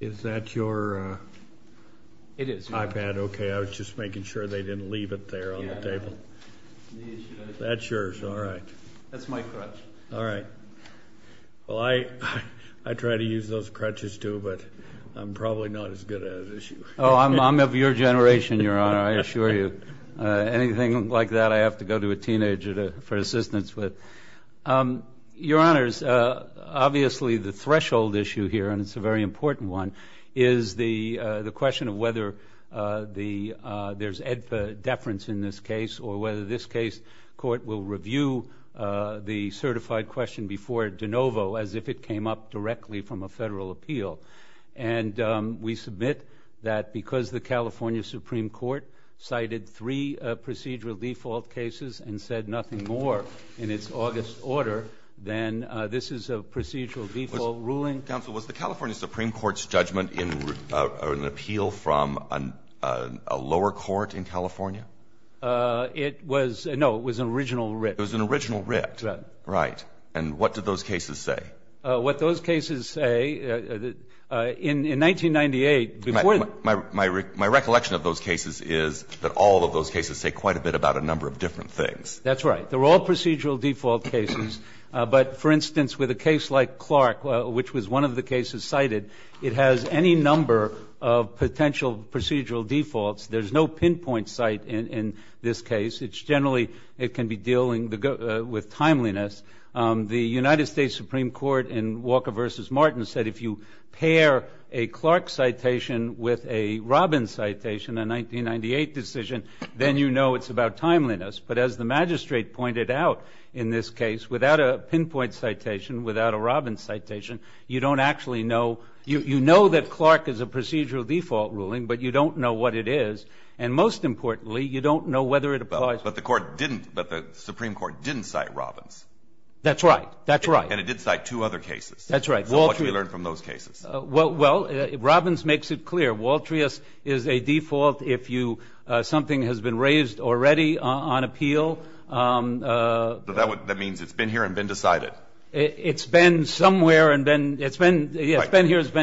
Is that your iPad? It is. Okay, I was just making sure they didn't leave it there on the table. That's yours, all right. That's my crutch. All right. Well, I try to use those crutches, too, but I'm probably not as good at it as you. Oh, I'm of your generation, Your Honor, I assure you. Anything like that, I have to go to a teenager for assistance with. Your Honors, obviously the threshold issue here, and it's a very important one, is the question of whether there's EDFA deference in this case or whether this case court will review the certified question before de novo, as if it came up directly from a federal appeal. And we submit that because the California Supreme Court cited three procedural default cases and said nothing more in its August order than this is a procedural default ruling. Counsel, was the California Supreme Court's judgment an appeal from a lower court in California? No, it was an original writ. It was an original writ. Right. Right. And what did those cases say? What those cases say, in 1998, before the ---- My recollection of those cases is that all of those cases say quite a bit about a number of different things. That's right. They're all procedural default cases. But, for instance, with a case like Clark, which was one of the cases cited, it has any number of potential procedural defaults. There's no pinpoint site in this case. It's generally ---- it can be dealing with timeliness. The United States Supreme Court in Walker v. Martin said if you pair a Clark citation with a Robbins citation, a 1998 decision, then you know it's about timeliness. But as the magistrate pointed out in this case, without a pinpoint citation, without a Robbins citation, you don't actually know. You know that Clark is a procedural default ruling, but you don't know what it is. And, most importantly, you don't know whether it applies. But the Supreme Court didn't cite Robbins. That's right. That's right. And it did cite two other cases. That's right. So what should we learn from those cases? Well, Robbins makes it clear. Waltrius is a default if something has been raised already on appeal. That means it's been here and been decided. It's been somewhere and been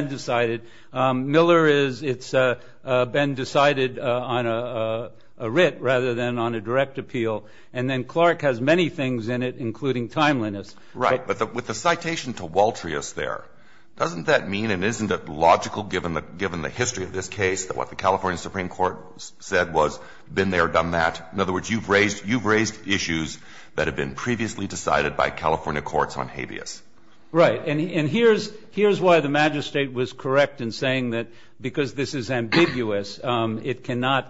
decided. Miller is it's been decided on a writ rather than on a direct appeal. And then Clark has many things in it, including timeliness. Right. But with the citation to Waltrius there, doesn't that mean and isn't it logical, given the history of this case, that what the California Supreme Court said was been there, done that? In other words, you've raised issues that have been previously decided by California courts on habeas. Right. And here's why the magistrate was correct in saying that because this is ambiguous, it cannot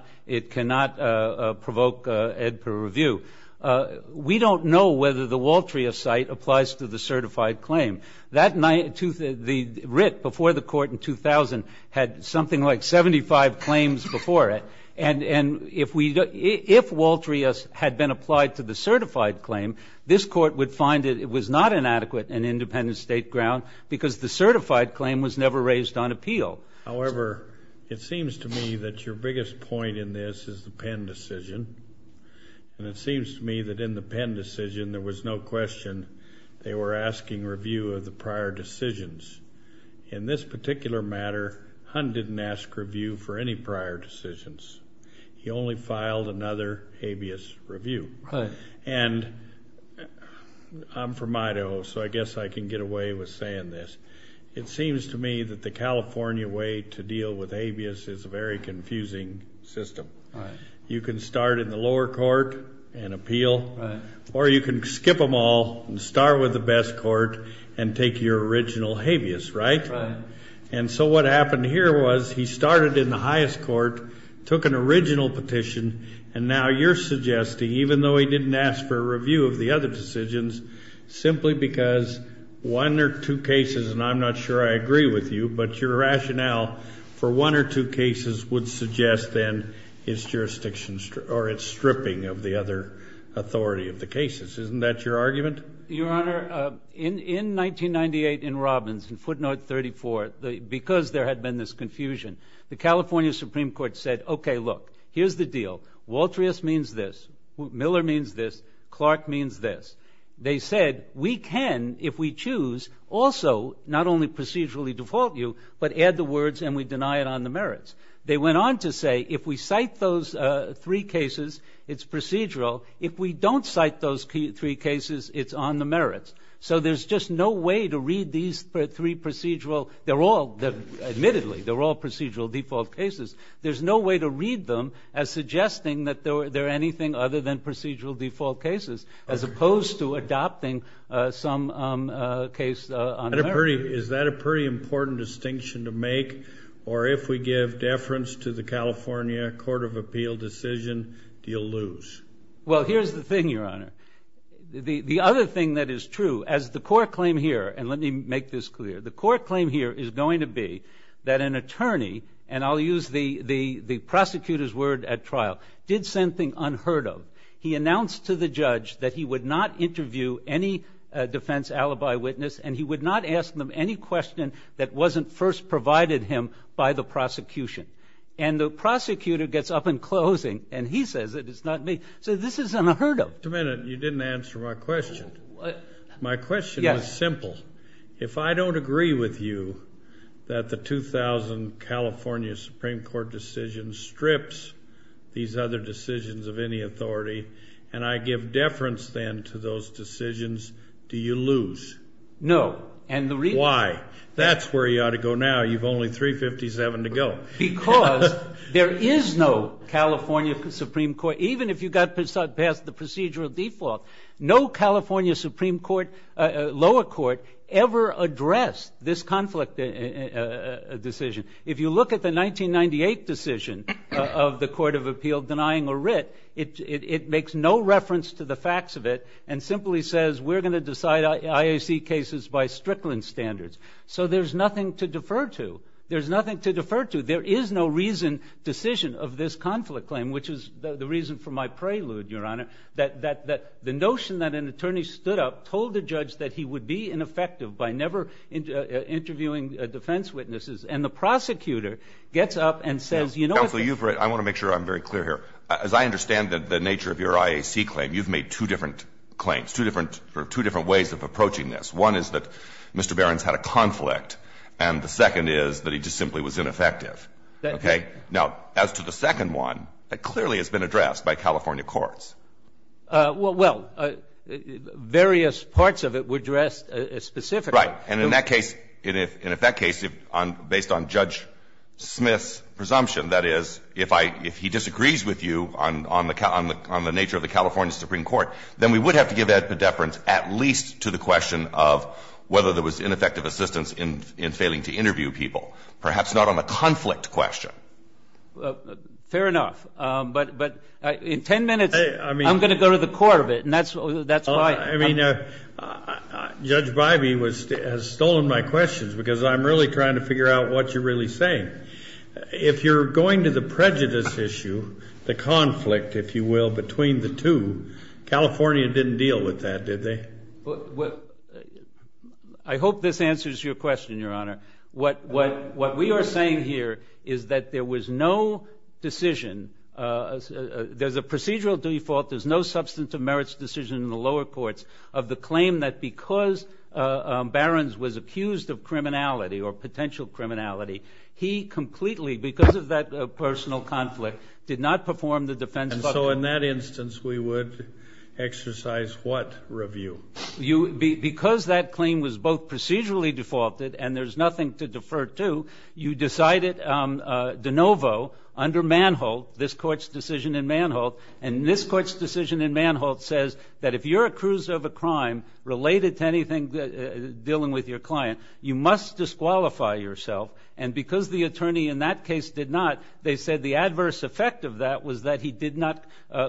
provoke ed per review. We don't know whether the Waltrius cite applies to the certified claim. The writ before the court in 2000 had something like 75 claims before it. And if Waltrius had been applied to the certified claim, this court would find it was not an adequate and independent state ground because the certified claim was never raised on appeal. However, it seems to me that your biggest point in this is the Penn decision. And it seems to me that in the Penn decision there was no question they were asking review of the prior decisions. In this particular matter, Hunt didn't ask review for any prior decisions. He only filed another habeas review. Right. And I'm from Idaho, so I guess I can get away with saying this. It seems to me that the California way to deal with habeas is a very confusing system. Right. You can start in the lower court and appeal. Right. Or you can skip them all and start with the best court and take your original habeas, right? Right. And so what happened here was he started in the highest court, took an original petition, and now you're suggesting, even though he didn't ask for a review of the other decisions, simply because one or two cases, and I'm not sure I agree with you, but your rationale for one or two cases would suggest, then, its jurisdiction or its stripping of the other authority of the cases. Isn't that your argument? Your Honor, in 1998 in Robbins, in footnote 34, because there had been this confusion, the California Supreme Court said, okay, look, here's the deal. Waltrius means this. Miller means this. Clark means this. They said, we can, if we choose, also not only procedurally default you, but add the words and we deny it on the merits. They went on to say, if we cite those three cases, it's procedural. If we don't cite those three cases, it's on the merits. So there's just no way to read these three procedural. They're all, admittedly, they're all procedural default cases. There's no way to read them as suggesting that they're anything other than procedural default cases, as opposed to adopting some case on the merits. Is that a pretty important distinction to make? Or if we give deference to the California Court of Appeal decision, do you lose? Well, here's the thing, Your Honor. The other thing that is true, as the court claim here, and let me make this clear, the court claim here is going to be that an attorney, and I'll use the prosecutor's word at trial, did something unheard of. He announced to the judge that he would not interview any defense alibi witness and he would not ask them any question that wasn't first provided him by the prosecution. And the prosecutor gets up in closing and he says it, it's not me. So this is unheard of. Wait a minute. You didn't answer my question. My question was simple. If I don't agree with you that the 2000 California Supreme Court decision strips these other decisions of any authority and I give deference then to those decisions, do you lose? No. Why? That's where you ought to go now. You've only 357 to go. Because there is no California Supreme Court, even if you got past the procedural default, no California Supreme Court lower court ever addressed this conflict decision. If you look at the 1998 decision of the Court of Appeal denying a writ, it makes no reference to the facts of it and simply says we're going to decide IAC cases by Strickland standards. So there's nothing to defer to. There's nothing to defer to. There is no reason, decision of this conflict claim, which is the reason for my prelude, Your Honor, that the notion that an attorney stood up, told the judge that he would be ineffective by never interviewing defense witnesses, and the prosecutor gets up and says, you know, Counsel, I want to make sure I'm very clear here. As I understand the nature of your IAC claim, you've made two different claims, two different ways of approaching this. One is that Mr. Barron's had a conflict and the second is that he just simply was ineffective. Okay? Now, as to the second one, it clearly has been addressed by California courts. Well, various parts of it were addressed specifically. Right. And in that case, and if that case, based on Judge Smith's presumption, that is, if he disagrees with you on the nature of the California Supreme Court, then we would have to give that pedeference at least to the question of whether there was ineffective assistance in failing to interview people, perhaps not on the conflict question. Fair enough. But in ten minutes I'm going to go to the court of it, and that's why. I mean, Judge Bybee has stolen my questions because I'm really trying to figure out what you're really saying. If you're going to the prejudice issue, the conflict, if you will, between the two, California didn't deal with that, did they? I hope this answers your question, Your Honor. What we are saying here is that there was no decision, there's a procedural default, there's no substantive merits decision in the lower courts of the claim that because Barrons was accused of criminality or potential criminality, he completely, because of that personal conflict, did not perform the defense. And so in that instance we would exercise what review? Because that claim was both procedurally defaulted and there's nothing to defer to, you decided de novo under Manholt, this Court's decision in Manholt, and this Court's decision in Manholt says that if you're accused of a crime related to anything dealing with your client, you must disqualify yourself. And because the attorney in that case did not, they said the adverse effect of that was that he did not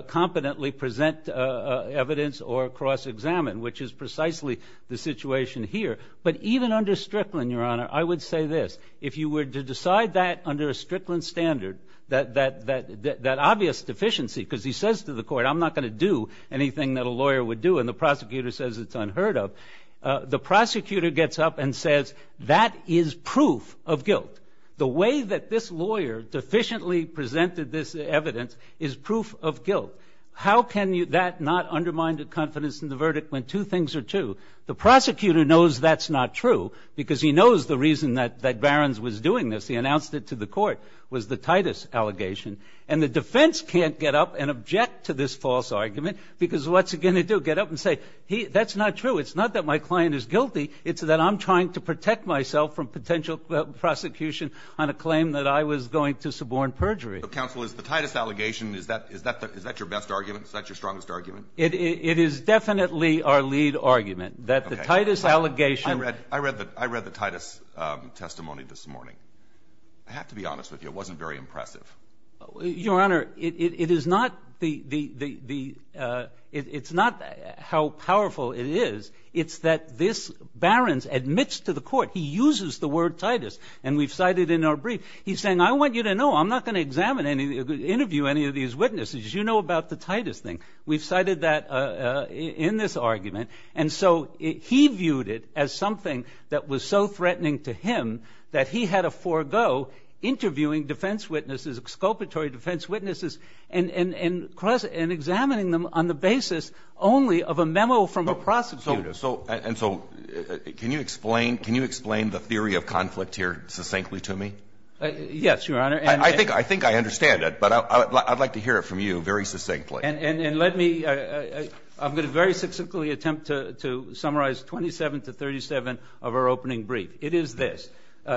competently present evidence or cross-examine, which is precisely the situation here. But even under Strickland, Your Honor, I would say this. If you were to decide that under a Strickland standard, that obvious deficiency, because he says to the court, I'm not going to do anything that a lawyer would do, and the prosecutor says it's unheard of, the prosecutor gets up and says, that is proof of guilt. The way that this lawyer deficiently presented this evidence is proof of guilt. How can that not undermine the confidence in the verdict when two things are true? The prosecutor knows that's not true because he knows the reason that Barron's was doing this. He announced it to the court, was the Titus allegation. And the defense can't get up and object to this false argument because what's it going to do? Get up and say, that's not true. It's not that my client is guilty. It's that I'm trying to protect myself from potential prosecution on a claim that I was going to suborn perjury. Counsel, is the Titus allegation, is that your best argument? Is that your strongest argument? It is definitely our lead argument, that the Titus allegation. I read the Titus testimony this morning. I have to be honest with you, it wasn't very impressive. Your Honor, it is not the ‑‑ it's not how powerful it is. It's that this Barron's admits to the court, he uses the word Titus, and we've cited it in our brief. He's saying, I want you to know, I'm not going to examine any, interview any of these witnesses. You know about the Titus thing. We've cited that in this argument. And so he viewed it as something that was so threatening to him that he had to forego interviewing defense witnesses, exculpatory defense witnesses, and examining them on the basis only of a memo from a prosecutor. And so can you explain the theory of conflict here succinctly to me? Yes, Your Honor. I think I understand it, but I'd like to hear it from you very succinctly. And let me ‑‑ I'm going to very succinctly attempt to summarize 27 to 37 of our opening brief. It is this.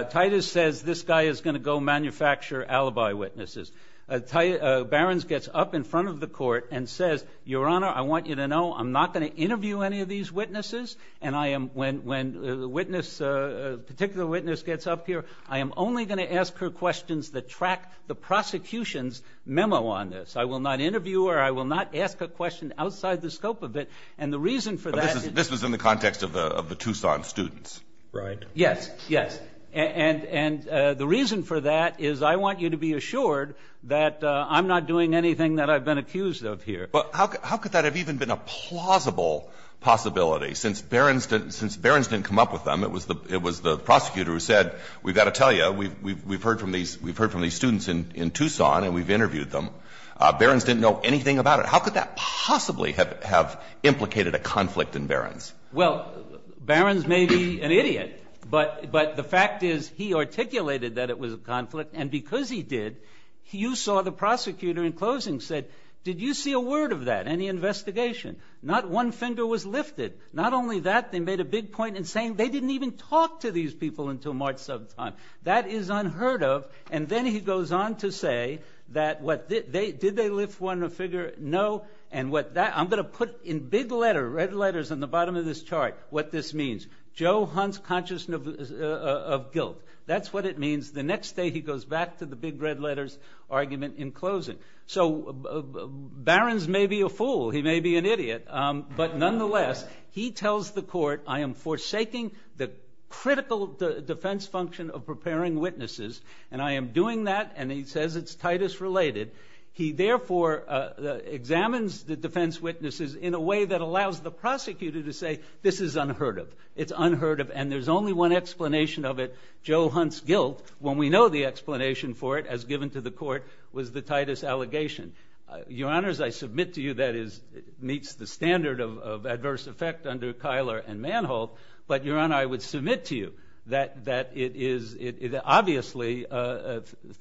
Titus says this guy is going to go manufacture alibi witnesses. Barron's gets up in front of the court and says, Your Honor, I want you to know, I'm not going to interview any of these witnesses. And I am ‑‑ when a witness, a particular witness gets up here, I am only going to ask her questions that track the prosecution's memo on this. I will not interview her. I will not ask a question outside the scope of it. And the reason for that is ‑‑ This was in the context of the Tucson students. Right. Yes, yes. And the reason for that is I want you to be assured that I'm not doing anything that I've been accused of here. But how could that have even been a plausible possibility? Since Barron's didn't come up with them, it was the prosecutor who said, We've got to tell you, we've heard from these students in Tucson and we've interviewed them. Barron's didn't know anything about it. How could that possibly have implicated a conflict in Barron's? Well, Barron's may be an idiot, but the fact is he articulated that it was a conflict. And because he did, you saw the prosecutor in closing said, Did you see a word of that, any investigation? Not one finger was lifted. Not only that, they made a big point in saying they didn't even talk to these people until March 7th time. That is unheard of. And then he goes on to say that what ‑‑ did they lift one figure? No. And what that ‑‑ I'm going to put in big letter, red letters on the bottom of this chart, what this means. Joe Hunt's consciousness of guilt. That's what it means. The next day he goes back to the big red letters argument in closing. So Barron's may be a fool. He may be an idiot. But nonetheless, he tells the court, I am forsaking the critical defense function of preparing witnesses. And I am doing that. And he says it's Titus related. He therefore examines the defense witnesses in a way that allows the prosecutor to say this is unheard of. It's unheard of. And there's only one explanation of it. Joe Hunt's guilt, when we know the explanation for it, as given to the court, was the Titus allegation. Your Honors, I submit to you that it meets the standard of adverse effect under Keiler and Manholt. But, Your Honor, I would submit to you that it is ‑‑ it obviously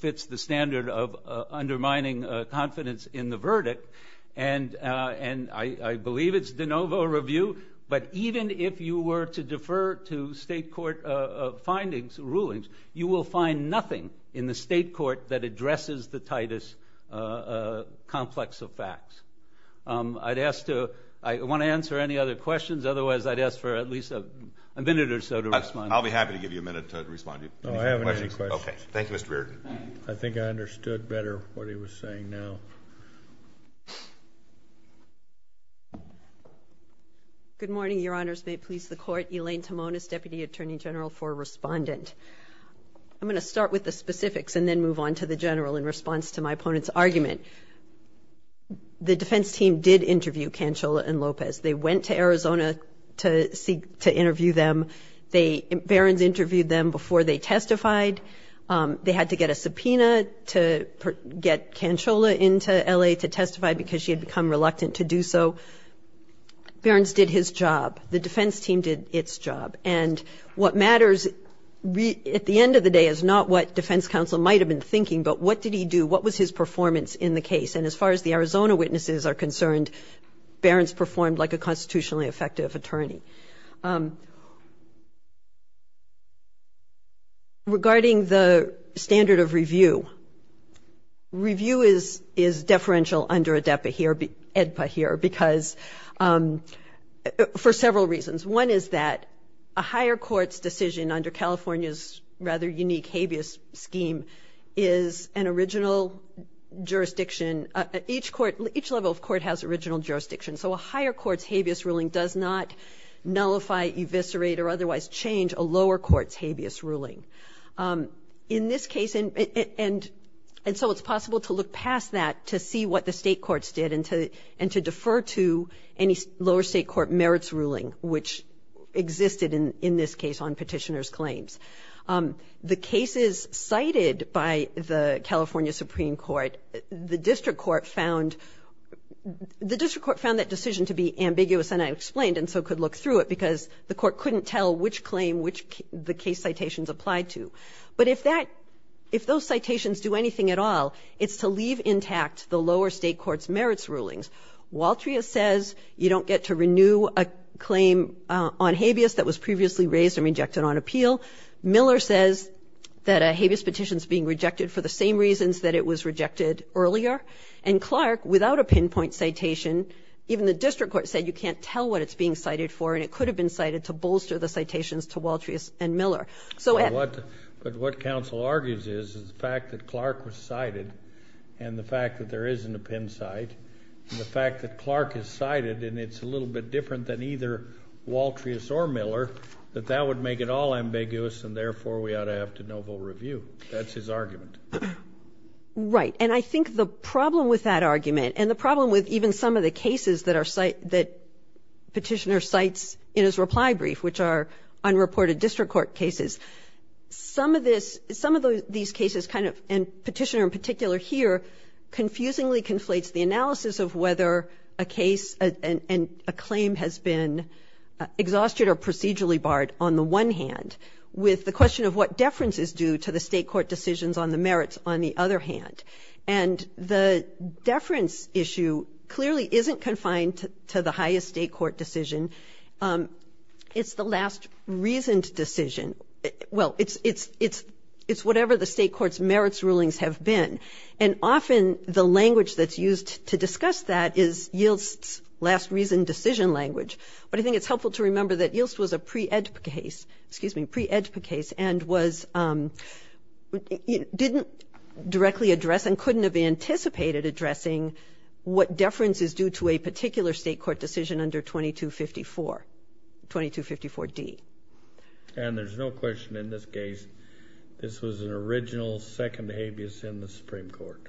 fits the standard of undermining confidence in the verdict. And I believe it's de novo review. But even if you were to defer to state court findings, rulings, you will find nothing in the state court that addresses the Titus complex of facts. I'd ask to ‑‑ I want to answer any other questions. Otherwise, I'd ask for at least a minute or so to respond. I'll be happy to give you a minute to respond. No, I haven't any questions. Okay. Thank you, Mr. Reardon. I think I understood better what he was saying now. Good morning, Your Honors. May it please the Court. Elaine Timonis, Deputy Attorney General for Respondent. I'm going to start with the specifics and then move on to the general in response to my opponent's argument. The defense team did interview Cancella and Lopez. They went to Arizona to interview them. Barron's interviewed them before they testified. They had to get a subpoena to get Cancella into L.A. to testify because she had become reluctant to do so. Barron's did his job. The defense team did its job. And what matters at the end of the day is not what defense counsel might have been thinking, but what did he do? What was his performance in the case? And as far as the Arizona witnesses are concerned, Barron's performed like a constitutionally effective attorney. Regarding the standard of review, review is deferential under ADEPA here because for several reasons. One is that a higher court's decision under California's rather unique habeas scheme is an original jurisdiction. Each level of court has original jurisdiction. So a higher court's habeas ruling does not nullify, eviscerate, or otherwise change a lower court's habeas ruling. In this case, and so it's possible to look past that to see what the state courts did and to defer to any lower state court merits ruling, which existed in this case on petitioner's claims. The cases cited by the California Supreme Court, the district court found that decision to be ambiguous and unexplained and so could look through it because the court couldn't tell which claim the case citations applied to. But if those citations do anything at all, it's to leave intact the lower state court's merits rulings. Waltria says you don't get to renew a claim on habeas that was previously raised and rejected on appeal. Miller says that a habeas petition is being rejected for the same reasons that it was rejected earlier. And Clark, without a pinpoint citation, even the district court said you can't tell what it's being cited for, and it could have been cited to bolster the citations to Waltrias and Miller. So, Ed. But what counsel argues is the fact that Clark was cited and the fact that there isn't a pin cite and the fact that Clark is cited and it's a little bit different than either Waltrias or Miller, that that would make it all ambiguous and therefore we ought to have to no-vote review. That's his argument. Right. And I think the problem with that argument and the problem with even some of the cases that are cited that Petitioner cites in his reply brief, which are unreported district court cases, some of this, some of these cases kind of, and Petitioner in particular here, confusingly conflates the analysis of whether a case and a claim has been exhausted or procedurally barred on the one hand with the question of what deference is due to the state court decisions on the merits on the other hand. And the deference issue clearly isn't confined to the highest state court decision. It's the last reasoned decision. Well, it's whatever the state court's merits rulings have been. And often the language that's used to discuss that is YILST's last reasoned decision language. But I think it's helpful to remember that YILST was a pre-EDPA case, excuse me, pre-EDPA case and didn't directly address and couldn't have anticipated addressing what deference is due to a particular state court decision under 2254, 2254D. And there's no question in this case, this was an original second habeas in the Supreme Court.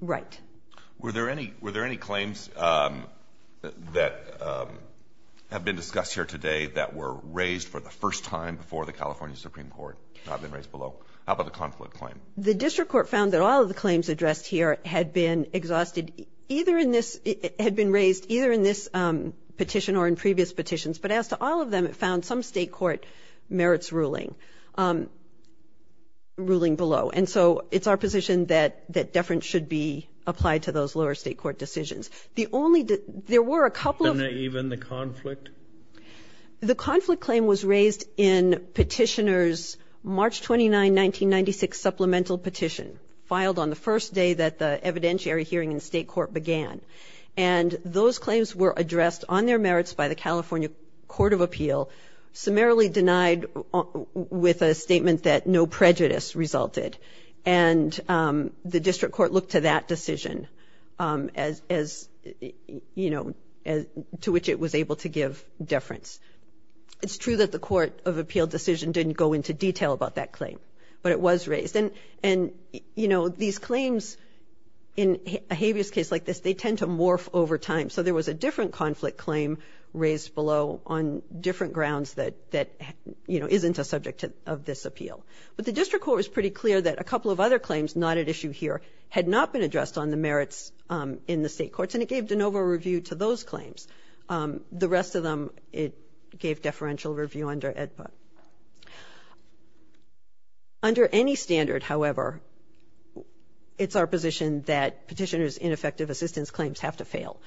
Right. Were there any, were there any claims that have been discussed here today that were raised for the first time before the California Supreme Court, not been raised below? How about the conflict claim? The district court found that all of the claims addressed here had been exhausted, either in this, had been raised either in this petition or in previous petitions. But as to all of them, it found some state court merits ruling, ruling below. And so it's our position that deference should be applied to those lower state court decisions. The only, there were a couple of. And even the conflict? The conflict claim was raised in Petitioner's March 29, 1996 supplemental petition, filed on the first day that the evidentiary hearing in state court began. And those claims were addressed on their merits by the California Court of Appeal, summarily denied with a statement that no prejudice resulted. And the district court looked to that decision as, you know, to which it was able to give deference. It's true that the Court of Appeal decision didn't go into detail about that claim, but it was raised. And, you know, these claims in a habeas case like this, they tend to morph over time. So there was a different conflict claim raised below on different grounds that, you know, isn't a subject of this appeal. But the district court was pretty clear that a couple of other claims not at issue here had not been addressed on the merits in the state courts, and it gave de novo review to those claims. The rest of them, it gave deferential review under AEDPA. Under any standard, however, it's our position that Petitioner's ineffective assistance claims have to fail.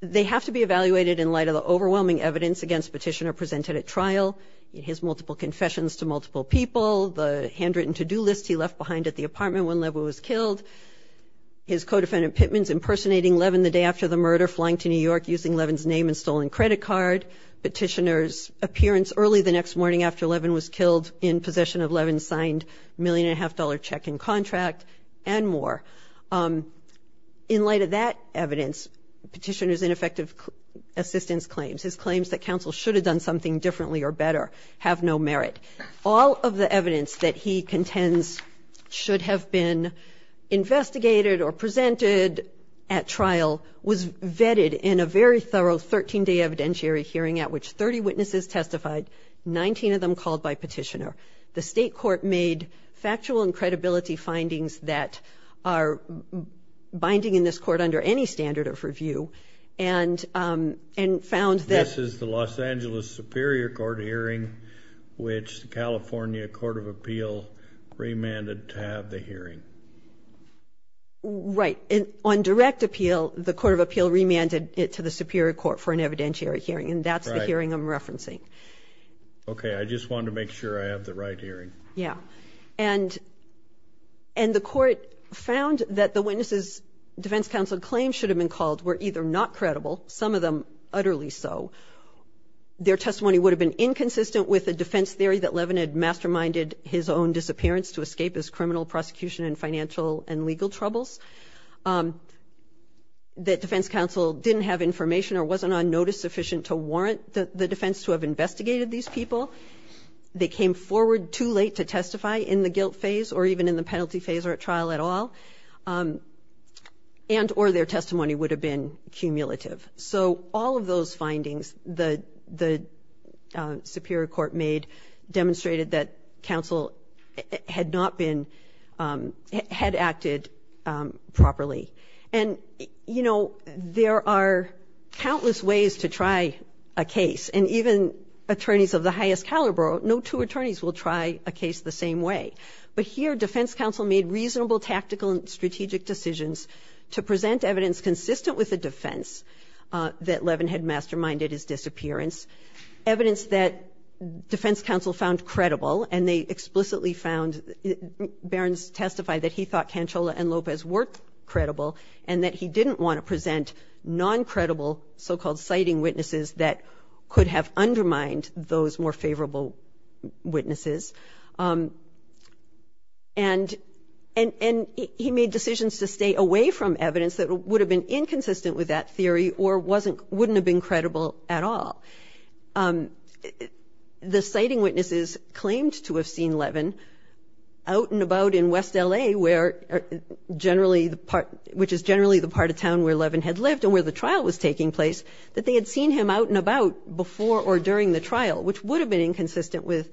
They have to be evaluated in light of the overwhelming evidence against Petitioner presented at trial, his multiple confessions to multiple people, the handwritten to-do list he left behind at the apartment when Levin was killed, his co-defendant Pittman's impersonating Levin the day after the murder, flying to New York using Levin's name and stolen credit card, Petitioner's appearance early the next morning after Levin was killed in possession of Levin's signed million-and-a-half-dollar check-in contract, and more. In light of that evidence, Petitioner's ineffective assistance claims, his claims that counsel should have done something differently or better, have no merit. All of the evidence that he contends should have been investigated or presented at trial was vetted in a very thorough 13-day evidentiary hearing at which 30 witnesses testified, 19 of them called by Petitioner. The state court made factual and credibility findings that are binding in this court under any standard of review and found that... The California Court of Appeal remanded to have the hearing. Right. On direct appeal, the Court of Appeal remanded it to the Superior Court for an evidentiary hearing, and that's the hearing I'm referencing. Okay. I just wanted to make sure I have the right hearing. Yeah. And the court found that the witnesses' defense counsel claims should have been called were either not credible, some of them utterly so. Their testimony would have been inconsistent with a defense theory that Levin had masterminded his own disappearance to escape his criminal prosecution and financial and legal troubles. That defense counsel didn't have information or wasn't on notice sufficient to warrant the defense to have investigated these people. They came forward too late to testify in the guilt phase or even in the penalty phase or at trial at all. And or their testimony would have been cumulative. So all of those findings the Superior Court made demonstrated that counsel had not been... Had acted properly. And, you know, there are countless ways to try a case, and even attorneys of the highest caliber, no two attorneys will try a case the same way. But here defense counsel made reasonable tactical and strategic decisions to present evidence consistent with the defense that Levin had masterminded his disappearance, evidence that defense counsel found credible, and they explicitly found... Barron's testified that he thought Cancella and Lopez were credible and that he didn't want to present non-credible so-called citing witnesses that could have undermined those more favorable witnesses. And he made decisions to stay away from evidence that would have been inconsistent with that theory or wasn't wouldn't have been credible at all. The citing witnesses claimed to have seen Levin out and about in West L.A., where generally the part which is generally the part of town where Levin had lived and where the trial was taking place, that they had seen him out and about before or during the trial, which would have been inconsistent with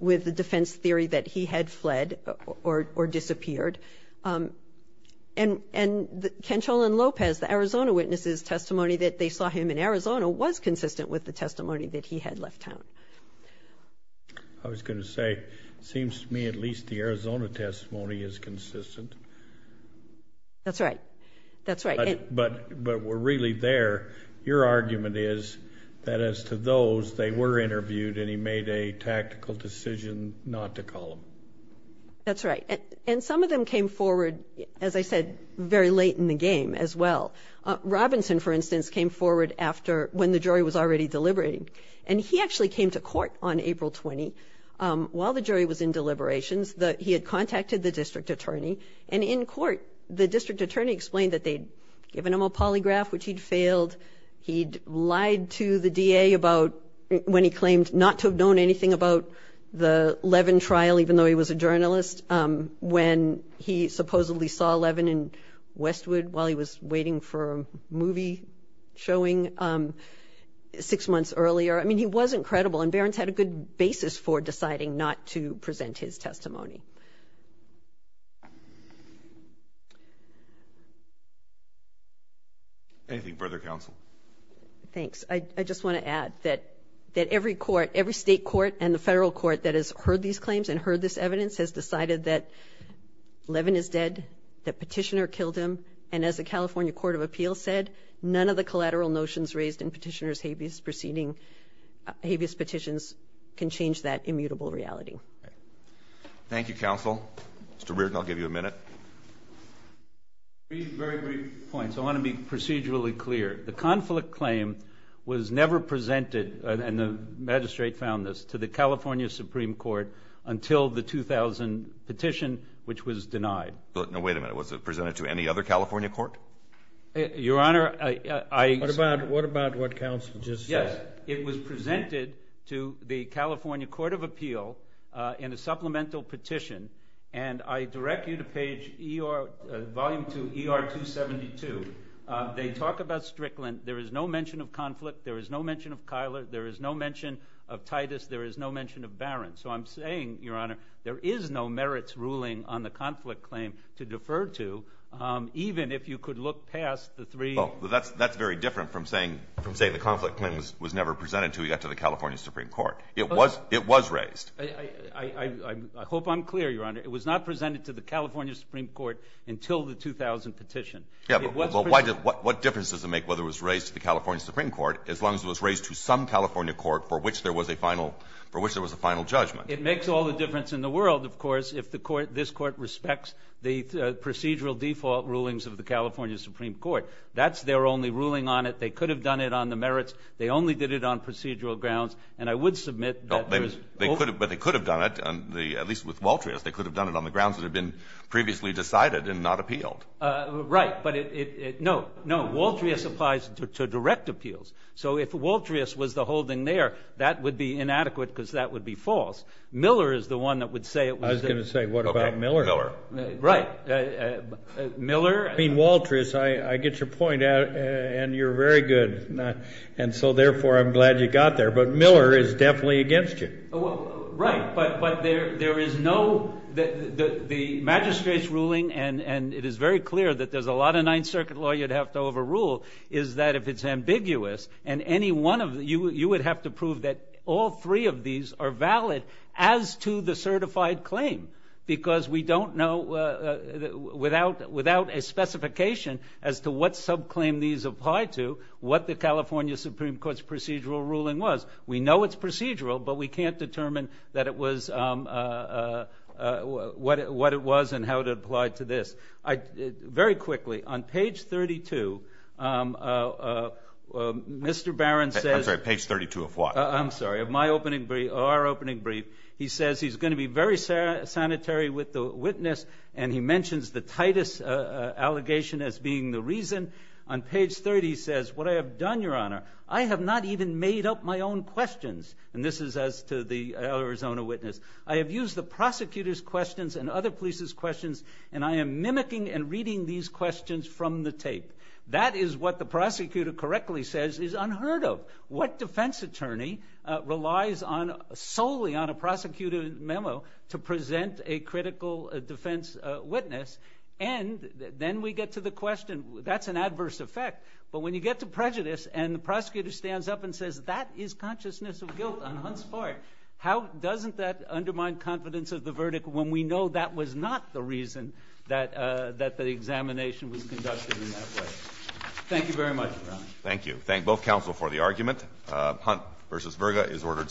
the defense theory that he had fled or disappeared. And Cancella and Lopez, the Arizona witnesses' testimony that they saw him in Arizona was consistent with the testimony that he had left town. I was going to say, it seems to me at least the Arizona testimony is consistent. That's right. That's right. But we're really there. Your argument is that as to those, they were interviewed and he made a tactical decision not to call them. That's right. And some of them came forward, as I said, very late in the game as well. Robinson, for instance, came forward after when the jury was already deliberating. And he actually came to court on April 20 while the jury was in deliberations. He had contacted the district attorney. And in court, the district attorney explained that they'd given him a polygraph, which he'd failed. He'd lied to the D.A. about when he claimed not to have known anything about the Levin trial, even though he was a journalist, when he supposedly saw Levin in Westwood while he was waiting for a movie showing six months earlier. I mean, he wasn't credible. And Barron's had a good basis for deciding not to present his testimony. Anything further, Counsel? Thanks. I just want to add that every court, every state court and the federal court that has heard these claims and heard this evidence has decided that Levin is dead, that Petitioner killed him. And as the California Court of Appeals said, none of the collateral notions raised in Petitioner's habeas petitions can change that immutable reality. Thank you, Counsel. Mr. Reardon, I'll give you a minute. Three very brief points. I want to be procedurally clear. The conflict claim was never presented, and the magistrate found this, to the California Supreme Court until the 2000 petition, which was denied. Now, wait a minute. Was it presented to any other California court? What about what Counsel just said? Yes. It was presented to the California Court of Appeal in a supplemental petition, and I direct you to page ER, Volume 2, ER 272. They talk about Strickland. There is no mention of conflict. There is no mention of Kyler. There is no mention of Titus. There is no mention of Barron. So I'm saying, Your Honor, there is no merits ruling on the conflict claim to defer to, even if you could look past the three. Well, that's very different from saying the conflict claim was never presented to the California Supreme Court. It was raised. I hope I'm clear, Your Honor. It was not presented to the California Supreme Court until the 2000 petition. What difference does it make whether it was raised to the California Supreme Court, as long as it was raised to some California court for which there was a final judgment? It makes all the difference in the world, of course, if this Court respects the procedural default rulings of the California Supreme Court. That's their only ruling on it. They could have done it on the merits. They only did it on procedural grounds. And I would submit that there is – But they could have done it, at least with Waltrius. They could have done it on the grounds that had been previously decided and not appealed. Right. But it – no, no. Waltrius applies to direct appeals. So if Waltrius was the holding there, that would be inadequate because that would be false. Miller is the one that would say it was – I was going to say, what about Miller? Okay. Miller. Right. Miller – I mean, Waltrius, I get your point, and you're very good. And so, therefore, I'm glad you got there. But Miller is definitely against you. Right. But there is no – the magistrate's ruling, and it is very clear that there's a lot of you'd have to overrule is that if it's ambiguous, and any one of – you would have to prove that all three of these are valid as to the certified claim because we don't know without a specification as to what subclaim these apply to, what the California Supreme Court's procedural ruling was. We know it's procedural, but we can't determine that it was – what it was and how it applied to this. Very quickly, on page 32, Mr. Barron says – I'm sorry, page 32 of what? I'm sorry, of my opening – our opening brief. He says he's going to be very sanitary with the witness, and he mentions the Titus allegation as being the reason. On page 30, he says, What I have done, Your Honor, I have not even made up my own questions. And this is as to the Arizona witness. I have used the prosecutor's questions and other police's questions, and I am mimicking and reading these questions from the tape. That is what the prosecutor correctly says is unheard of. What defense attorney relies solely on a prosecutor's memo to present a critical defense witness? And then we get to the question. That's an adverse effect. But when you get to prejudice and the prosecutor stands up and says, That is consciousness of guilt on Hunt's part. How doesn't that undermine confidence of the verdict when we know that was not the reason that the examination was conducted in that way? Thank you very much, Your Honor. Thank you. Thank both counsel for the argument. Hunt v. Virga is ordered submitted.